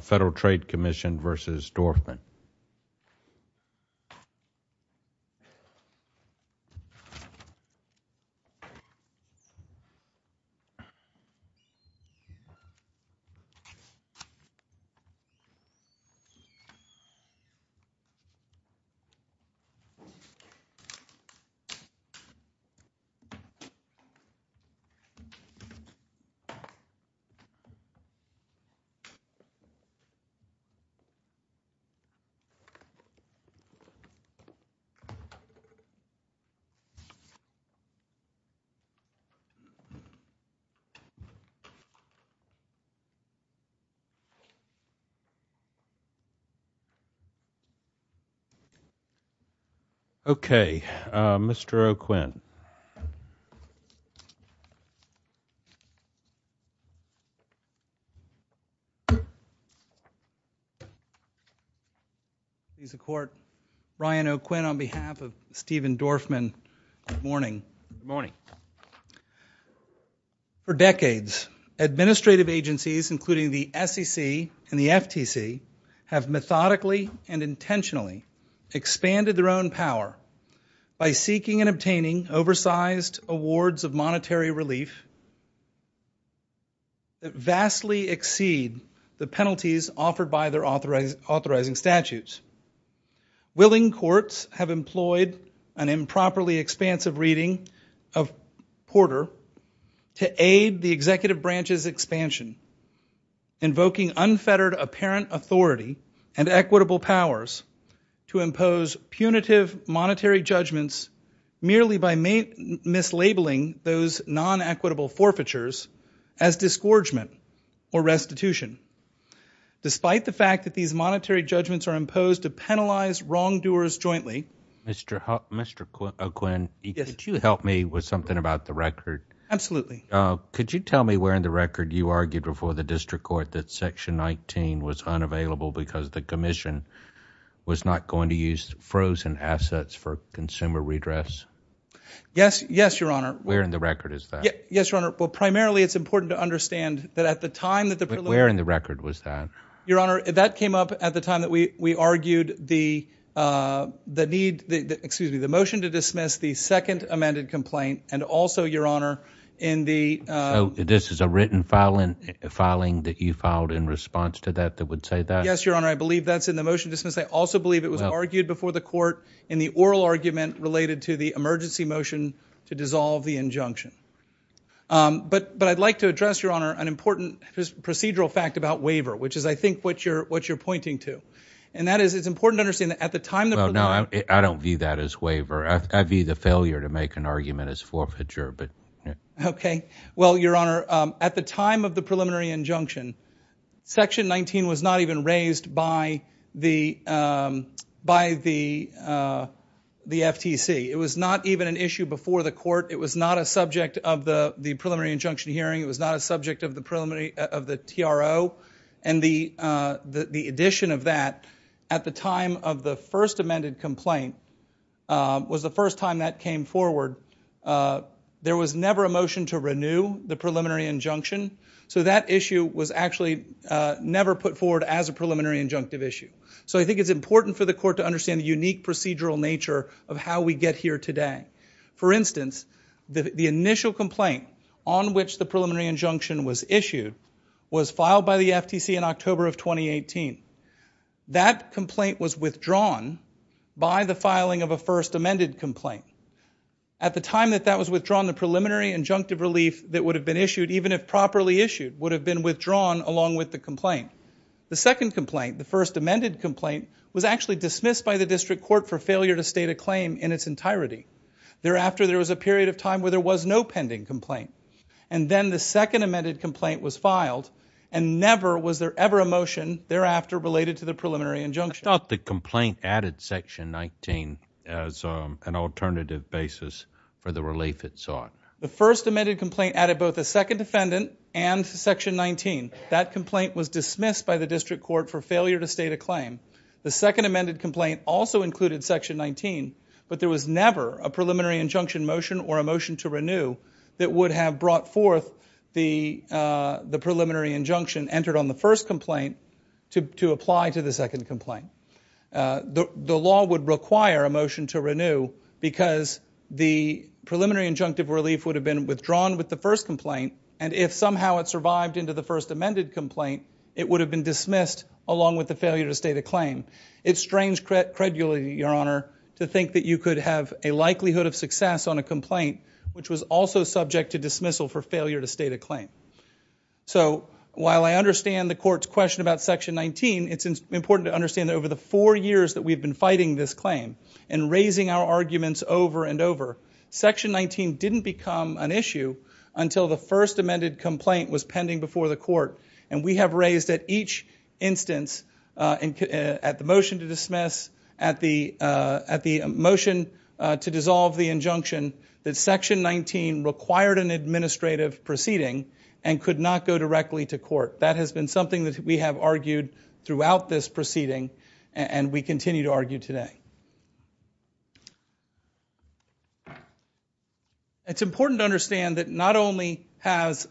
Federal Trade Commission v. Dorfman. Okay, Mr. O'Quinn. Mr. O'Quinn, on behalf of Steven Dorfman, good morning. Good morning. For decades, administrative agencies, including the SEC and the FTC, have methodically and intentionally expanded their own power by seeking and obtaining oversized awards of monetary relief that vastly exceed the penalties offered by their authorizing statutes. Willing courts have employed an improperly expansive reading of Porter to aid the executive branch's expansion, invoking unfettered apparent authority and equitable powers to impose punitive monetary judgments merely by mislabeling those non-equitable forfeitures as disgorgement or restitution. Despite the fact that these monetary judgments are imposed to penalize wrongdoers jointly Mr. O'Quinn, could you help me with something about the record? Absolutely. Could you tell me where in the record you argued before the district court that section 19 was unavailable because the commission was not going to use frozen assets for consumer redress? Yes, Your Honor. Where in the record is that? Yes, Your Honor. Well, primarily it's important to understand that at the time that the preliminary But where in the record was that? Your Honor, that came up at the time that we argued the need, excuse me, the motion to dismiss the second amended complaint and also, Your Honor, in the So this is a written filing that you filed in response to that that would say that? Yes, Your Honor. I believe that's in the motion to dismiss. I also believe it was argued before the court in the oral argument related to the emergency motion to dissolve the injunction. But I'd like to address, Your Honor, an important procedural fact about waiver, which is, I think, what you're pointing to. And that is it's important to understand that at the time the preliminary Well, no, I don't view that as waiver. I view the failure to make an argument as forfeiture. Okay. Well, Your Honor, at the time of the preliminary injunction, Section 19 was not even raised by the FTC. It was not even an issue before the court. It was not a subject of the preliminary injunction hearing. It was not a subject of the TRO. And the addition of that at the time of the first amended complaint was the first time that came forward, there was never a motion to renew the preliminary injunction. So that issue was actually never put forward as a preliminary injunctive issue. So I think it's important for the court to understand the unique procedural nature of how we get here today. For instance, the initial complaint on which the preliminary injunction was issued was filed by the FTC in October of 2018. That complaint was withdrawn by the filing of a first amended complaint. At the time that that was withdrawn, the preliminary injunctive relief that would have been issued, even if properly issued, would have been withdrawn along with the complaint. The second complaint, the first amended complaint, was actually dismissed by the district court for failure to state a claim in its entirety. Thereafter, there was a period of time where there was no pending complaint. And then the second amended complaint was filed and never was there ever a motion thereafter related to the preliminary injunction. I thought the complaint added section 19 as an alternative basis for the relief it sought. The first amended complaint added both a second defendant and section 19. That complaint was dismissed by the district court for failure to state a claim. The second amended complaint also included section 19, but there was never a preliminary injunction motion or a motion to renew that would have brought forth the preliminary injunction entered on the first complaint to apply to the second complaint. The law would require a motion to renew because the preliminary injunctive relief would have been withdrawn with the first complaint, and if somehow it survived into the first amended complaint, it would have been dismissed along with the failure to state a claim. It's strange credulity, Your Honor, to think that you could have a likelihood of success on a complaint which was also subject to dismissal for failure to state a claim. So while I understand the court's question about section 19, it's important to understand that over the four years that we've been fighting this claim and raising our arguments over and over, section 19 didn't become an issue until the first amended complaint was pending before the court, and we have raised at each instance, at the motion to dismiss, at the motion to dissolve the injunction, that section 19 required an administrative proceeding and could not go directly to court. That has been something that we have argued throughout this proceeding, and we continue to argue today. It's important to understand that not only have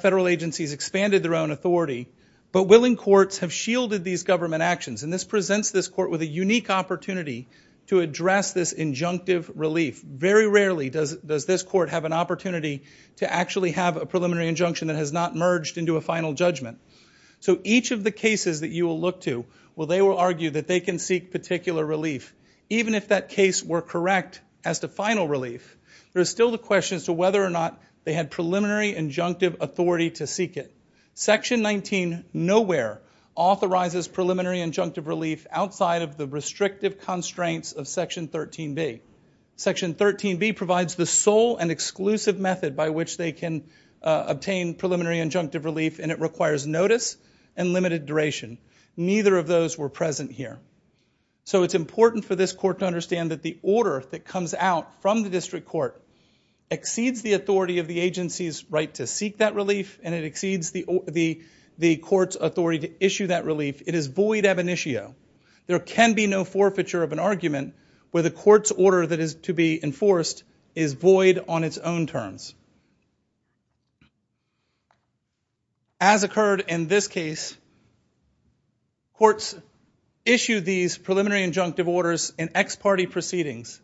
federal agencies expanded their own authority, but willing courts have shielded these government actions, and this presents this court with a unique opportunity to address this injunctive relief. Very rarely does this court have an opportunity to actually have a preliminary injunction that has not merged into a final judgment. So each of the cases that you will look to, while they will argue that they can seek particular relief, even if that case were correct as to final relief, there's still the question as to whether or not they had preliminary injunctive authority to seek it. Section 19 nowhere authorizes preliminary injunctive relief outside of the restrictive constraints of section 13B. Section 13B provides the sole and exclusive method by which they can obtain preliminary injunctive relief, and it requires notice and limited duration. Neither of those were present here. So it's important for this court to understand that the order that comes out from the district court exceeds the authority of the agency's right to seek that relief, and it exceeds the court's authority to issue that relief. It is void ab initio. There can be no forfeiture of an argument where the court's order that is to be enforced is void on its own terms. As occurred in this case, courts issue these preliminary injunctive orders in ex parte proceedings.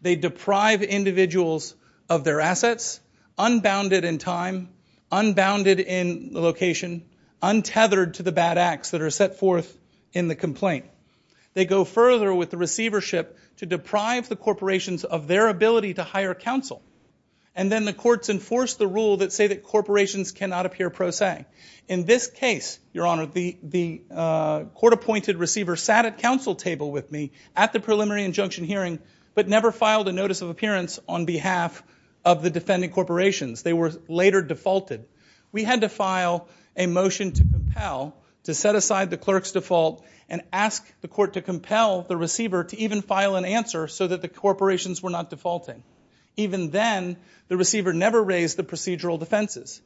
They deprive individuals of their assets, unbounded in time, unbounded in location, untethered to the bad acts that are set forth in the complaint. They go further with the receivership to deprive the corporations of their ability to hire counsel, and then the courts enforce the rule that say that corporations cannot appear pro se. In this case, Your Honor, the court-appointed receiver sat at counsel table with me at the preliminary injunction hearing, but never filed a notice of appearance on behalf of the defending corporations. They were later defaulted. We had to file a motion to compel, to set aside the clerk's default, and ask the court to compel the receiver to even file an answer so that the corporations were not defaulting. Even then, the receiver never raised the procedural defenses.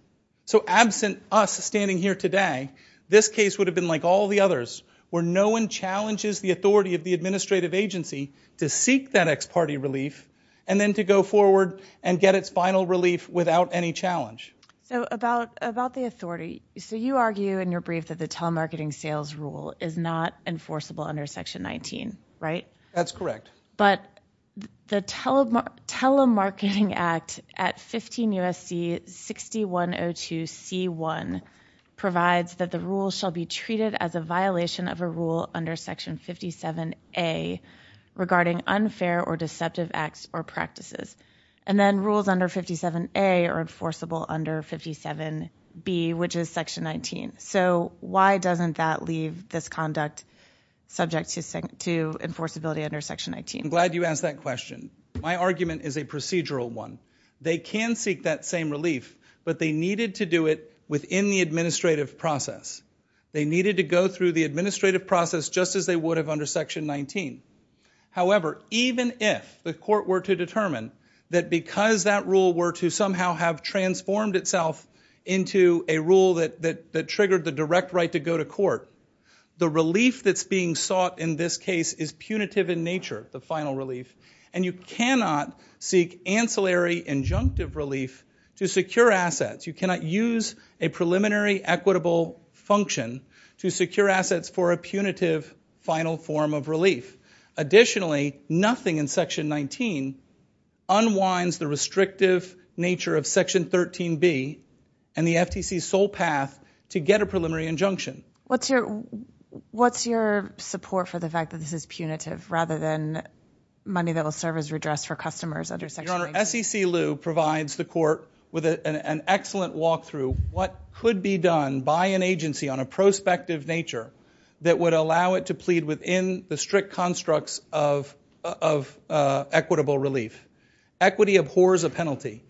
So absent us standing here today, this case would have been like all the others, where no one challenges the authority of the administrative agency to seek that ex parte relief, and then to go forward and get its final relief without any challenge. So about the authority. So you argue in your brief that the telemarketing sales rule is not enforceable under Section 19, right? That's correct. But the Telemarketing Act at 15 U.S.C. 6102C1 provides that the rule shall be treated as a violation of a rule under Section 57A regarding unfair or deceptive acts or practices. And then rules under 57A are enforceable under 57B, which is Section 19. So why doesn't that leave this conduct subject to enforceability under Section 19? I'm glad you asked that question. My argument is a procedural one. They can seek that same relief, but they needed to do it within the administrative process. They needed to go through the administrative process just as they would have under Section 19. However, even if the court were to determine that because that rule were to somehow have transformed itself into a rule that triggered the direct right to go to court, the relief that's being sought in this case is punitive in nature, the final relief, and you cannot seek ancillary injunctive relief to secure assets. You cannot use a preliminary equitable function to secure assets for a punitive final form of relief. Additionally, nothing in Section 19 unwinds the restrictive nature of Section 13B and the FTC's sole path to get a preliminary injunction. What's your support for the fact that this is punitive rather than money that will serve as redress for customers under Section 19? Your Honor, SEC Lu provides the court with an excellent walkthrough, what could be done by an agency on a prospective nature that would allow it to plead within the strict constructs of equitable relief. Equity abhors a penalty.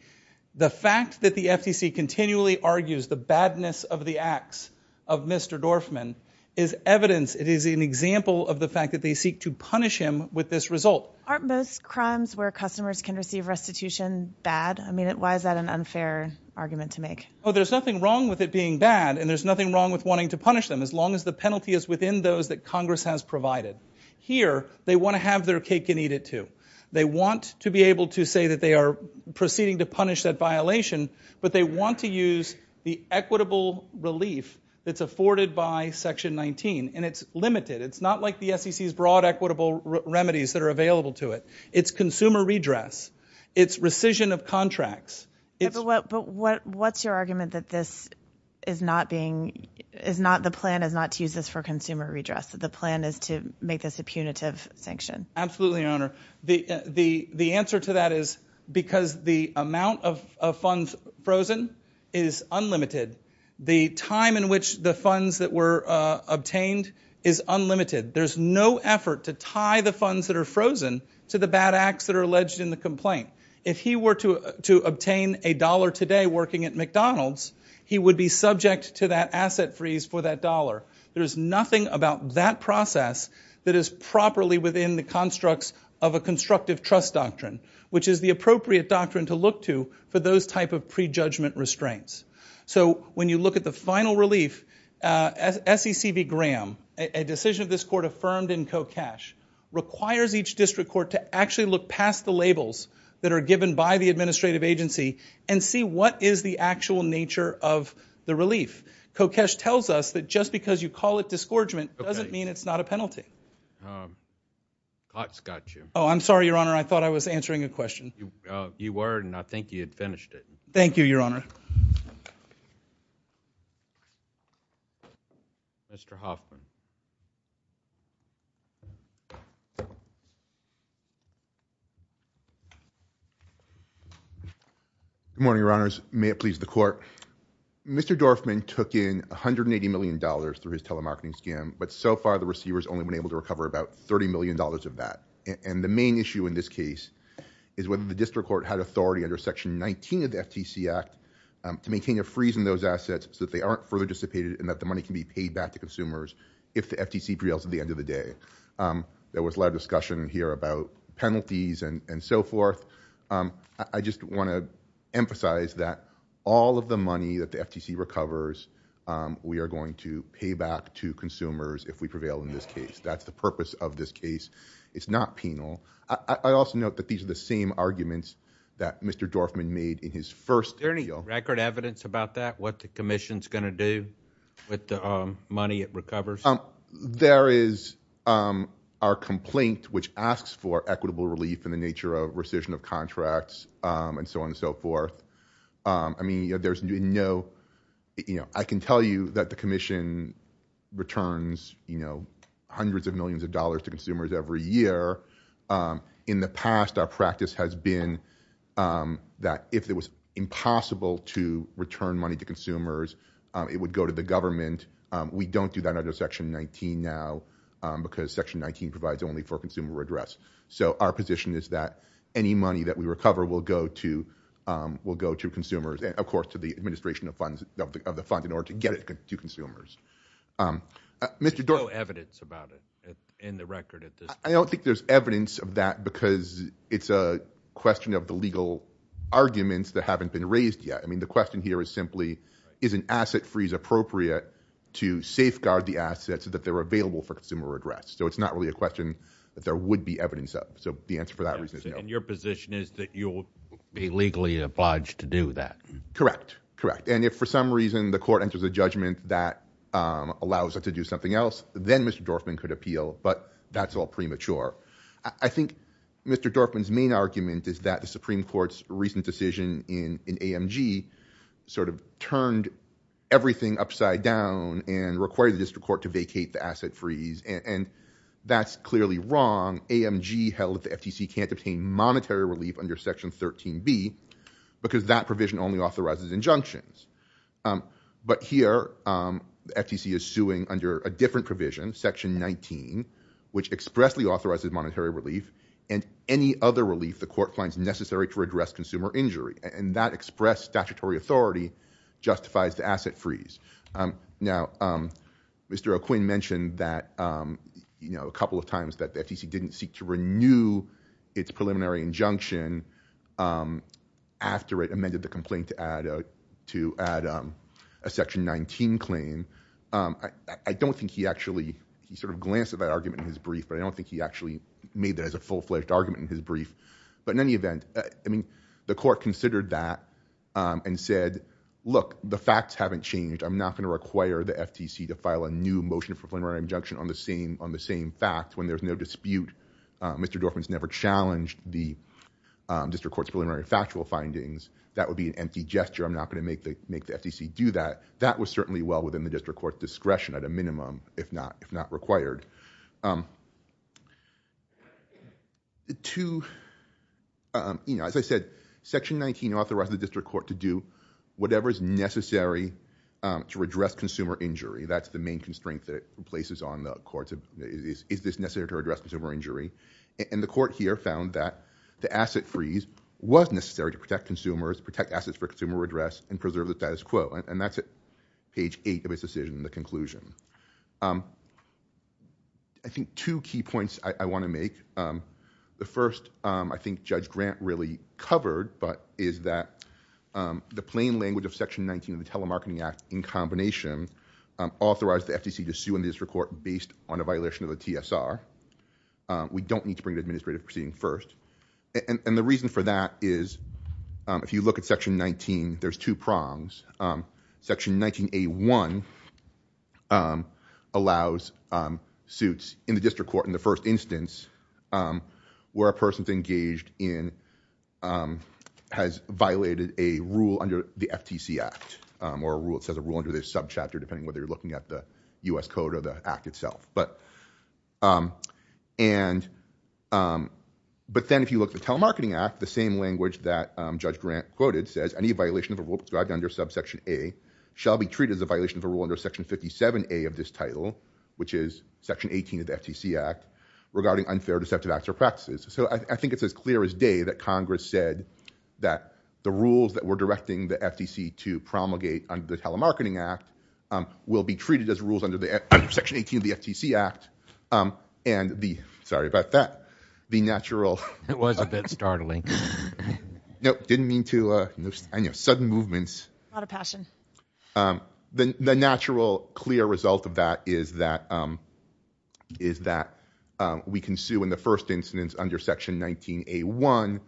The fact that the FTC continually argues the badness of the acts of Mr. Dorfman is evidence. It is an example of the fact that they seek to punish him with this result. Aren't most crimes where customers can receive restitution bad? I mean, why is that an unfair argument to make? There's nothing wrong with it being bad, and there's nothing wrong with wanting to punish them as long as the penalty is within those that Congress has provided. Here, they want to have their cake and eat it, too. They want to be able to say that they are proceeding to punish that violation, but they want to use the equitable relief that's afforded by Section 19, and it's limited. It's not like the SEC's broad equitable remedies that are available to it. It's consumer redress. It's rescission of contracts. But what's your argument that the plan is not to use this for consumer redress, that the plan is to make this a punitive sanction? Absolutely, Your Honor. The answer to that is because the amount of funds frozen is unlimited. The time in which the funds that were obtained is unlimited. There's no effort to tie the funds that are frozen to the bad acts that are alleged in the complaint. If he were to obtain a dollar today working at McDonald's, he would be subject to that asset freeze for that dollar. There is nothing about that process that is properly within the constructs of a constructive trust doctrine, which is the appropriate doctrine to look to for those type of prejudgment restraints. So when you look at the final relief, SEC v. Graham, a decision of this Court affirmed in CoCash, requires each district court to actually look past the labels that are given by the administrative agency and see what is the actual nature of the relief. CoCash tells us that just because you call it disgorgement doesn't mean it's not a penalty. Cots got you. Oh, I'm sorry, Your Honor. I thought I was answering a question. You were, and I think you had finished it. Thank you, Your Honor. Mr. Hoffman. Good morning, Your Honors. May it please the Court. Mr. Dorfman took in $180 million through his telemarketing scam, but so far the receivers only been able to recover about $30 million of that. And the main issue in this case is whether the district court had authority under Section 19 of the FTC Act to maintain a freeze in those assets so that they aren't further dissipated and that the money can be paid back to consumers if the FTC prevails at the end of the day. There was a lot of discussion here about penalties and so forth. I just want to emphasize that all of the money that the FTC recovers, we are going to pay back to consumers if we prevail in this case. That's the purpose of this case. It's not penal. I also note that these are the same arguments that Mr. Dorfman made in his first appeal. Is there any record evidence about that, what the Commission is going to do with the money it recovers? There is our complaint, which asks for equitable relief in the nature of rescission of contracts and so on and so forth. I can tell you that the Commission returns hundreds of millions of dollars to consumers every year. In the past, our practice has been that if it was impossible to return money to consumers, it would go to the government. We don't do that under Section 19 now because Section 19 provides only for consumer address. Our position is that any money that we recover will go to consumers and, of course, to the administration of the funds in order to get it to consumers. There's no evidence about it in the record at this point? I don't think there's evidence of that because it's a question of the legal arguments that haven't been raised yet. The question here is simply, is an asset freeze appropriate to safeguard the assets that are available for consumer address? It's not really a question that there would be evidence of. The answer for that reason is no. Your position is that you'll be legally obliged to do that? Correct. If, for some reason, the court enters a judgment that allows it to do something else, then Mr. Dorfman could appeal, but that's all premature. I think Mr. Dorfman's main argument is that the Supreme Court's recent decision in AMG sort of turned everything upside down and required the district court to vacate the asset freeze, and that's clearly wrong. AMG held that the FTC can't obtain monetary relief under Section 13b because that provision only authorizes injunctions. But here, the FTC is suing under a different provision, Section 19, which expressly authorizes monetary relief and any other relief the court finds necessary to address consumer injury, and that express statutory authority justifies the asset freeze. Now, Mr. O'Quinn mentioned a couple of times that the FTC didn't seek to renew its preliminary injunction after it amended the complaint to add a Section 19 claim. I don't think he actually sort of glanced at that argument in his brief, but I don't think he actually made that as a full-fledged argument in his brief. But in any event, I mean, the court considered that and said, look, the facts haven't changed. I'm not going to require the FTC to file a new motion of preliminary injunction on the same fact when there's no dispute. Mr. Dorfman's never challenged the district court's preliminary factual findings. That would be an empty gesture. I'm not going to make the FTC do that. That was certainly well within the district court's discretion at a minimum, if not required. As I said, Section 19 authorized the district court to do whatever is necessary to redress consumer injury. That's the main constraint that it places on the courts. Is this necessary to redress consumer injury? And the court here found that the asset freeze was necessary to protect consumers, protect assets for consumer redress, and preserve the status quo. And that's at page 8 of his decision, the conclusion. I think two key points I want to make. The first I think Judge Grant really covered, but is that the plain language of Section 19 of the Telemarketing Act in combination authorized the FTC to sue in the district court based on a violation of the TSR. We don't need to bring the administrative proceeding first. And the reason for that is if you look at Section 19, there's two prongs. Section 19A1 allows suits in the district court in the first instance where a person's engaged in, has violated a rule under the FTC Act or it says a rule under this subchapter depending whether you're looking at the U.S. Code or the Act itself. But then if you look at the Telemarketing Act, the same language that Judge Grant quoted says any violation of a rule prescribed under subsection A shall be treated as a violation of a rule under Section 57A of this title, which is Section 18 of the FTC Act, regarding unfair deceptive acts or practices. So I think it's as clear as day that Congress said that the rules that we're directing the FTC to promulgate under the Telemarketing Act will be treated as rules under Section 18 of the FTC Act. And the, sorry about that, the natural... It was a bit startling. No, didn't mean to, sudden movements. A lot of passion. The natural clear result of that is that we can sue in the first instance under Section 19A1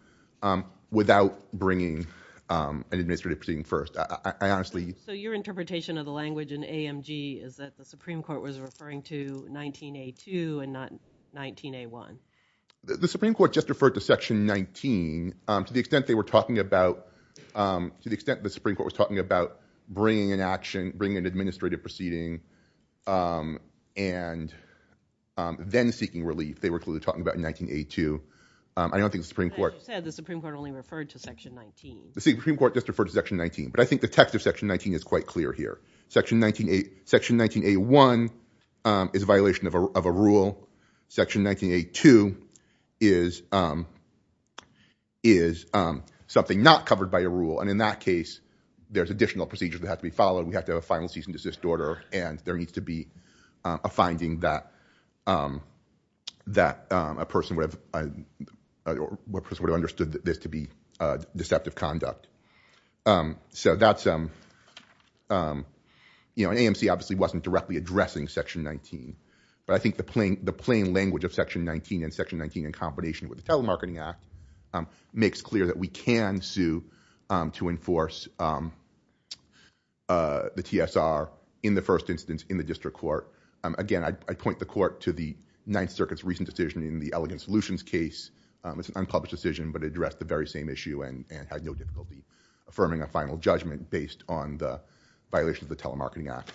without bringing an administrative proceeding first. I honestly... So your interpretation of the language in AMG is that the Supreme Court was referring to 19A2 and not 19A1. The Supreme Court just referred to Section 19 to the extent they were talking about, to the extent the Supreme Court was talking about bringing an action, bringing an administrative proceeding and then seeking relief. They were clearly talking about 19A2. I don't think the Supreme Court... As you said, the Supreme Court only referred to Section 19. The Supreme Court just referred to Section 19. But I think the text of Section 19 is quite clear here. Section 19A1 is a violation of a rule. Section 19A2 is something not covered by a rule. And in that case, there's additional procedures that have to be followed. We have to have a final cease and desist order. And there needs to be a finding that a person would have understood this to be deceptive conduct. So that's... You know, AMC obviously wasn't directly addressing Section 19. But I think the plain language of Section 19 and Section 19 in combination with the Telemarketing Act makes clear that we can sue to enforce the TSR in the first instance in the district court. Again, I'd point the court to the Ninth Circuit's recent decision in the Elegant Solutions case. It's an unpublished decision, but it addressed the very same issue and had no difficulty affirming a final judgment based on the violation of the Telemarketing Act.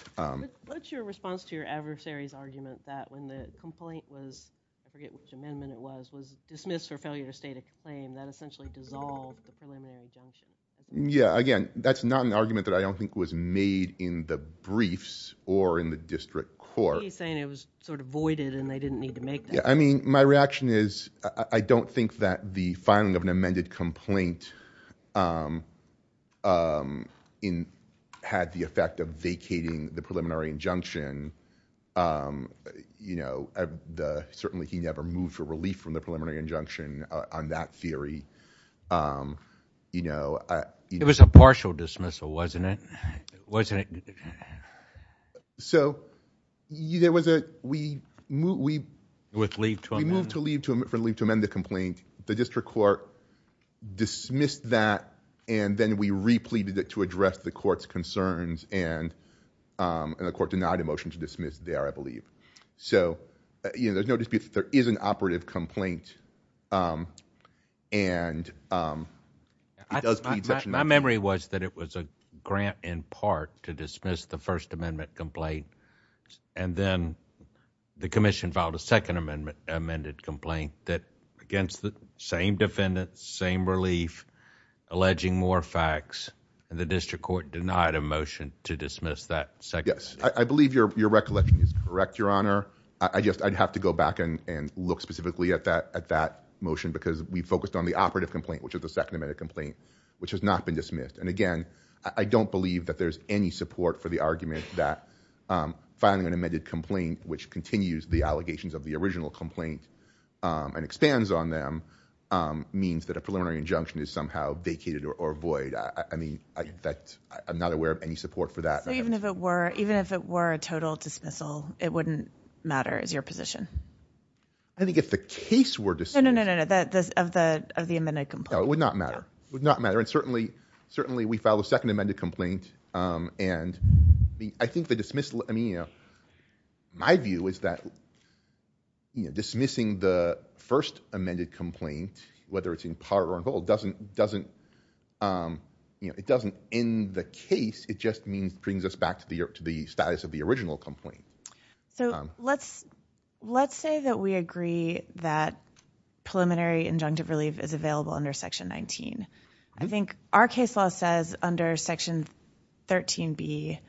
What's your response to your adversary's argument that when the complaint was... I forget which amendment it was. When the complaint was dismissed for failure to state a claim, that essentially dissolved the preliminary injunction. Yeah, again, that's not an argument that I don't think was made in the briefs or in the district court. He's saying it was sort of voided and they didn't need to make that. Yeah, I mean, my reaction is I don't think that the filing of an amended complaint had the effect of vacating the preliminary injunction. Certainly, he never moved for relief from the preliminary injunction on that theory. It was a partial dismissal, wasn't it? Wasn't it? So, there was a... With leave to amend? We moved for leave to amend the complaint. The district court dismissed that, and then we repleted it to address the court's concerns, and the court denied a motion to dismiss there, I believe. So, there's no dispute that there is an operative complaint, and it does... My memory was that it was a grant in part to dismiss the first amendment complaint, and then the commission filed a second amended complaint against the same defendants, same relief, alleging more facts, and the district court denied a motion to dismiss that second... Yes, I believe your recollection is correct, Your Honor. I'd have to go back and look specifically at that motion because we focused on the operative complaint, which is the second amended complaint, which has not been dismissed. And again, I don't believe that there's any support for the argument that filing an amended complaint, which continues the allegations of the original complaint and expands on them, means that a preliminary injunction is somehow vacated or void. I mean, I'm not aware of any support for that. So, even if it were a total dismissal, it wouldn't matter, is your position? I think if the case were dismissed... No, no, no, of the amended complaint. No, it would not matter. It would not matter. And certainly, we filed a second amended complaint, and I think the dismissal... My view is that dismissing the first amended complaint, whether it's in part or in whole, doesn't end the case. It just brings us back to the status of the original complaint. So, let's say that we agree that preliminary injunctive relief is available under Section 19. I think our case law says under Section 13B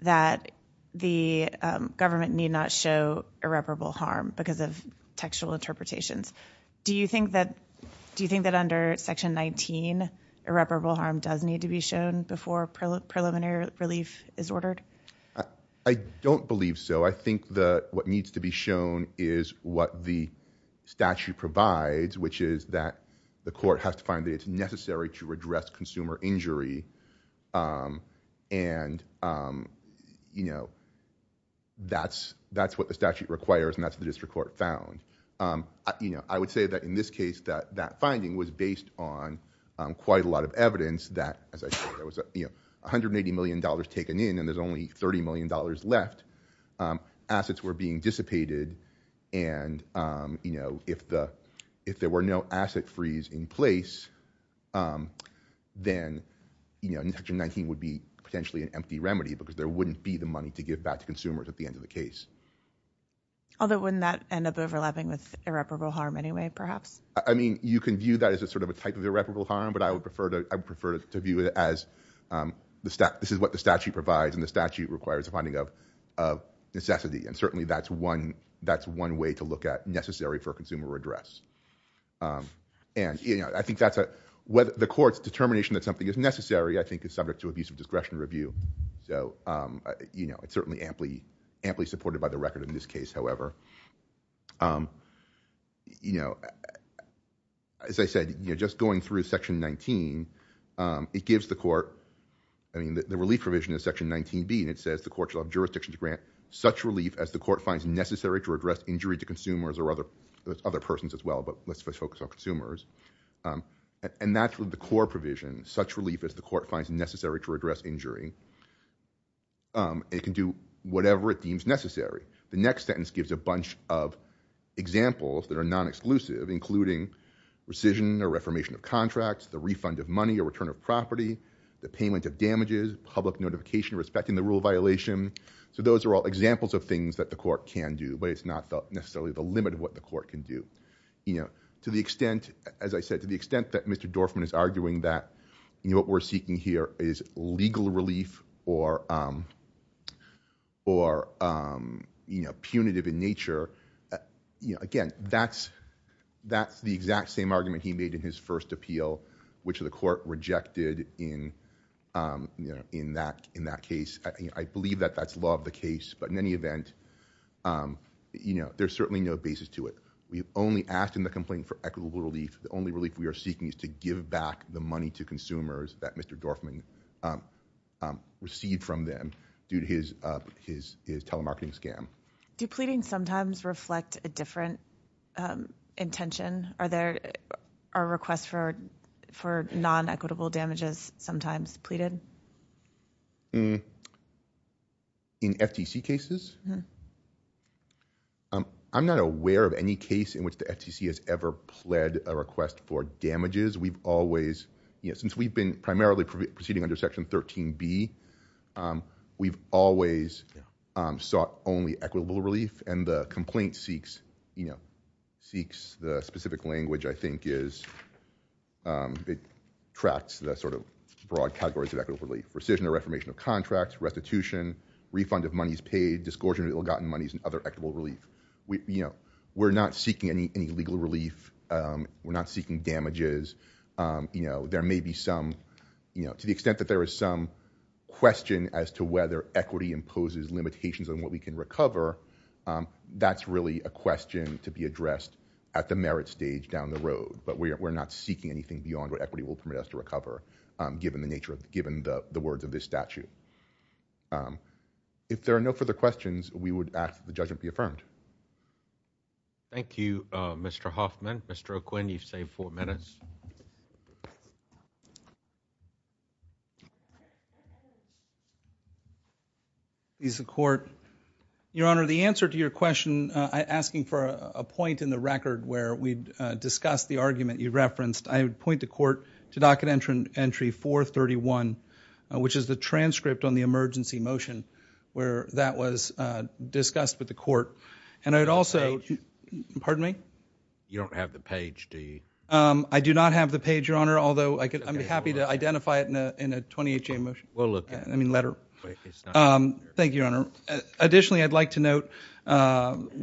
that the government need not show irreparable harm because of textual interpretations. Do you think that under Section 19, irreparable harm does need to be shown before preliminary relief is ordered? I don't believe so. I think that what needs to be shown is what the statute provides, which is that the court has to find that it's necessary to address consumer injury. And, you know, that's what the statute requires, and that's what the district court found. I would say that in this case, that that finding was based on quite a lot of evidence that, as I said, there was $180 million taken in and there's only $30 million left. Assets were being dissipated, and if there were no asset freeze in place, then Section 19 would be potentially an empty remedy because there wouldn't be the money to give back to consumers at the end of the case. Although wouldn't that end up overlapping with irreparable harm anyway, perhaps? I mean, you can view that as sort of a type of irreparable harm, but I would prefer to view it as this is what the statute provides and the statute requires a finding of necessity, and certainly that's one way to look at necessary for consumer redress. And, you know, I think that's a... The court's determination that something is necessary, I think, is subject to abuse of discretion review. So, you know, it's certainly amply supported by the record in this case, however. You know, as I said, just going through Section 19, it gives the court... I mean, the relief provision is Section 19b, and it says the court shall have jurisdiction to grant such relief as the court finds necessary to redress injury to consumers or other persons as well, but let's focus on consumers. And that's the core provision, such relief as the court finds necessary to redress injury. It can do whatever it deems necessary. The next sentence gives a bunch of examples that are non-exclusive, including rescission or reformation of contracts, the refund of money or return of property, the payment of damages, public notification respecting the rule violation. So those are all examples of things that the court can do, but it's not necessarily the limit of what the court can do. You know, to the extent, as I said, to the extent that Mr Dorfman is arguing that what we're seeking here is legal relief or punitive in nature, again, that's the exact same argument he made in his first appeal, which the court rejected in that case. I believe that that's law of the case, but in any event, there's certainly no basis to it. We've only asked in the complaint for equitable relief. The only relief we are seeking is to give back the money to consumers that Mr Dorfman received from them due to his telemarketing scam. Do pleadings sometimes reflect a different intention? Are requests for non-equitable damages sometimes pleaded? In FTC cases? I'm not aware of any case in which the FTC has ever pled a request for damages. We've always, you know, since we've been primarily proceeding under Section 13B, we've always sought only equitable relief, and the complaint seeks, you know, seeks the specific language, I think, is it tracks the sort of broad categories of equitable relief, rescission or reformation of contracts, restitution, refund of monies paid, disgorgement of ill-gotten monies, and other equitable relief. You know, we're not seeking any legal relief. We're not seeking damages. You know, there may be some, you know, to the extent that there is some question as to whether equity imposes limitations on what we can recover, that's really a question to be addressed at the merit stage down the road, but we're not seeking anything beyond what equity will permit us to recover, given the words of this statute. If there are no further questions, we would ask that the judgment be affirmed. Thank you, Mr. Hoffman. Mr. O'Quinn, you've saved four minutes. Please, the Court. Your Honor, the answer to your question, asking for a point in the record where we discussed the argument you referenced, I would point the Court to Docket Entry 431, which is the transcript on the emergency motion where that was discussed with the Court, and I would also... The page. Pardon me? You don't have the page, do you? I do not have the page, Your Honor, although I'm happy to identify it in a 28-J motion. We'll look at it. I mean, letter. Thank you, Your Honor. Additionally, I'd like to note,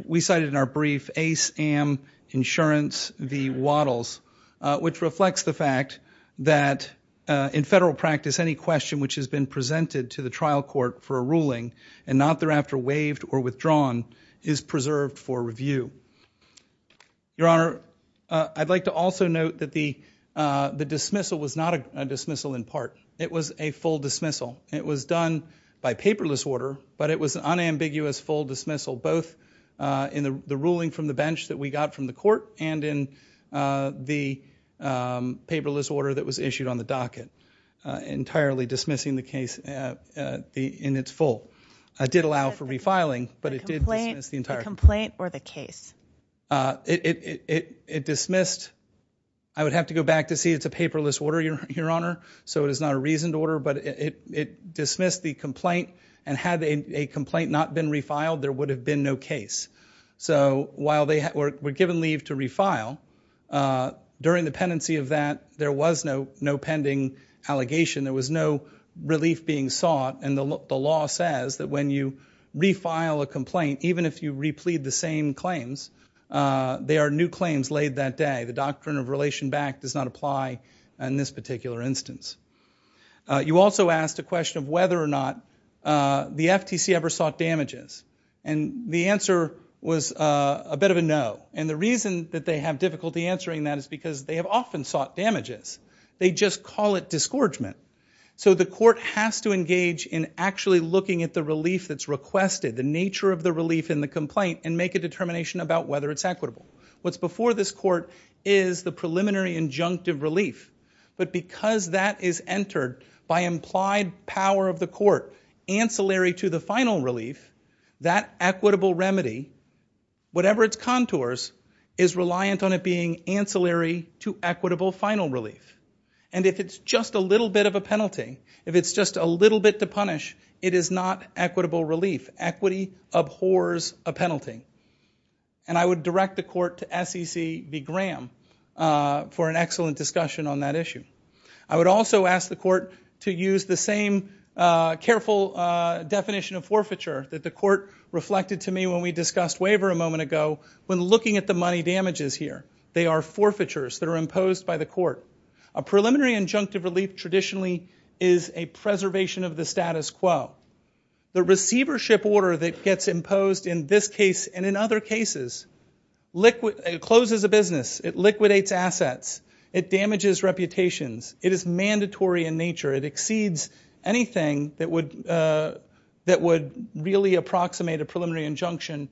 we cited in our brief Ace Am Insurance v. Waddles, which reflects the fact that in federal practice, any question which has been presented to the trial court for a ruling and not thereafter waived or withdrawn is preserved for review. Your Honor, I'd like to also note that the dismissal was not a dismissal in part. It was a full dismissal. It was done by paperless order, but it was an unambiguous full dismissal, both in the ruling from the bench that we got from the Court and in the paperless order that was issued on the docket, entirely dismissing the case in its full. It did allow for refiling, but it did dismiss the entire case. The complaint or the case? It dismissed. I would have to go back to see. It's a paperless order, Your Honor, so it is not a reasoned order, but it dismissed the complaint, and had a complaint not been refiled, there would have been no case. So while they were given leave to refile, during the pendency of that, there was no pending allegation. There was no relief being sought, and the law says that when you refile a complaint, even if you replete the same claims, there are new claims laid that day. The doctrine of relation back does not apply in this particular instance. You also asked a question of whether or not the FTC ever sought damages, and the answer was a bit of a no, and the reason that they have difficulty answering that is because they have often sought damages. They just call it disgorgement. So the court has to engage in actually looking at the relief that's requested, the nature of the relief in the complaint, and make a determination about whether it's equitable. What's before this court is the preliminary injunctive relief, but because that is entered by implied power of the court, ancillary to the final relief, that equitable remedy, whatever its contours, is reliant on it being ancillary to equitable final relief, and if it's just a little bit of a penalty, if it's just a little bit to punish, it is not equitable relief. Equity abhors a penalty, and I would direct the court to SEC v. Graham for an excellent discussion on that issue. I would also ask the court to use the same careful definition of forfeiture that the court reflected to me when we discussed waiver a moment ago when looking at the money damages here. They are forfeitures that are imposed by the court. A preliminary injunctive relief traditionally is a preservation of the status quo. The receivership order that gets imposed in this case and in other cases closes a business, it liquidates assets, it damages reputations, it is mandatory in nature, it exceeds anything that would really approximate a preliminary injunction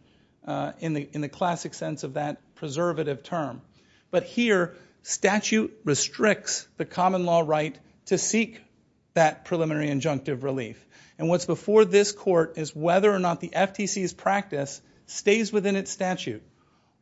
in the classic sense of that preservative term. But here, statute restricts the common law right to seek that preliminary injunctive relief. And what's before this court is whether or not the FTC's practice stays within its statute.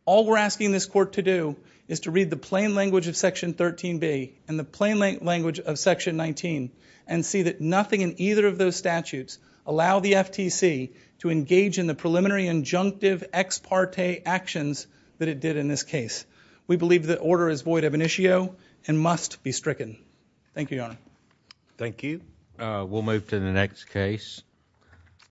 All we're asking this court to do is to read the plain language of Section 13b and the plain language of Section 19 and see that nothing in either of those statutes allow the FTC to engage in the preliminary injunctive ex parte actions that it did in this case. We believe the order is void of initio and must be stricken. Thank you, Your Honor. Thank you. We'll move to the next case.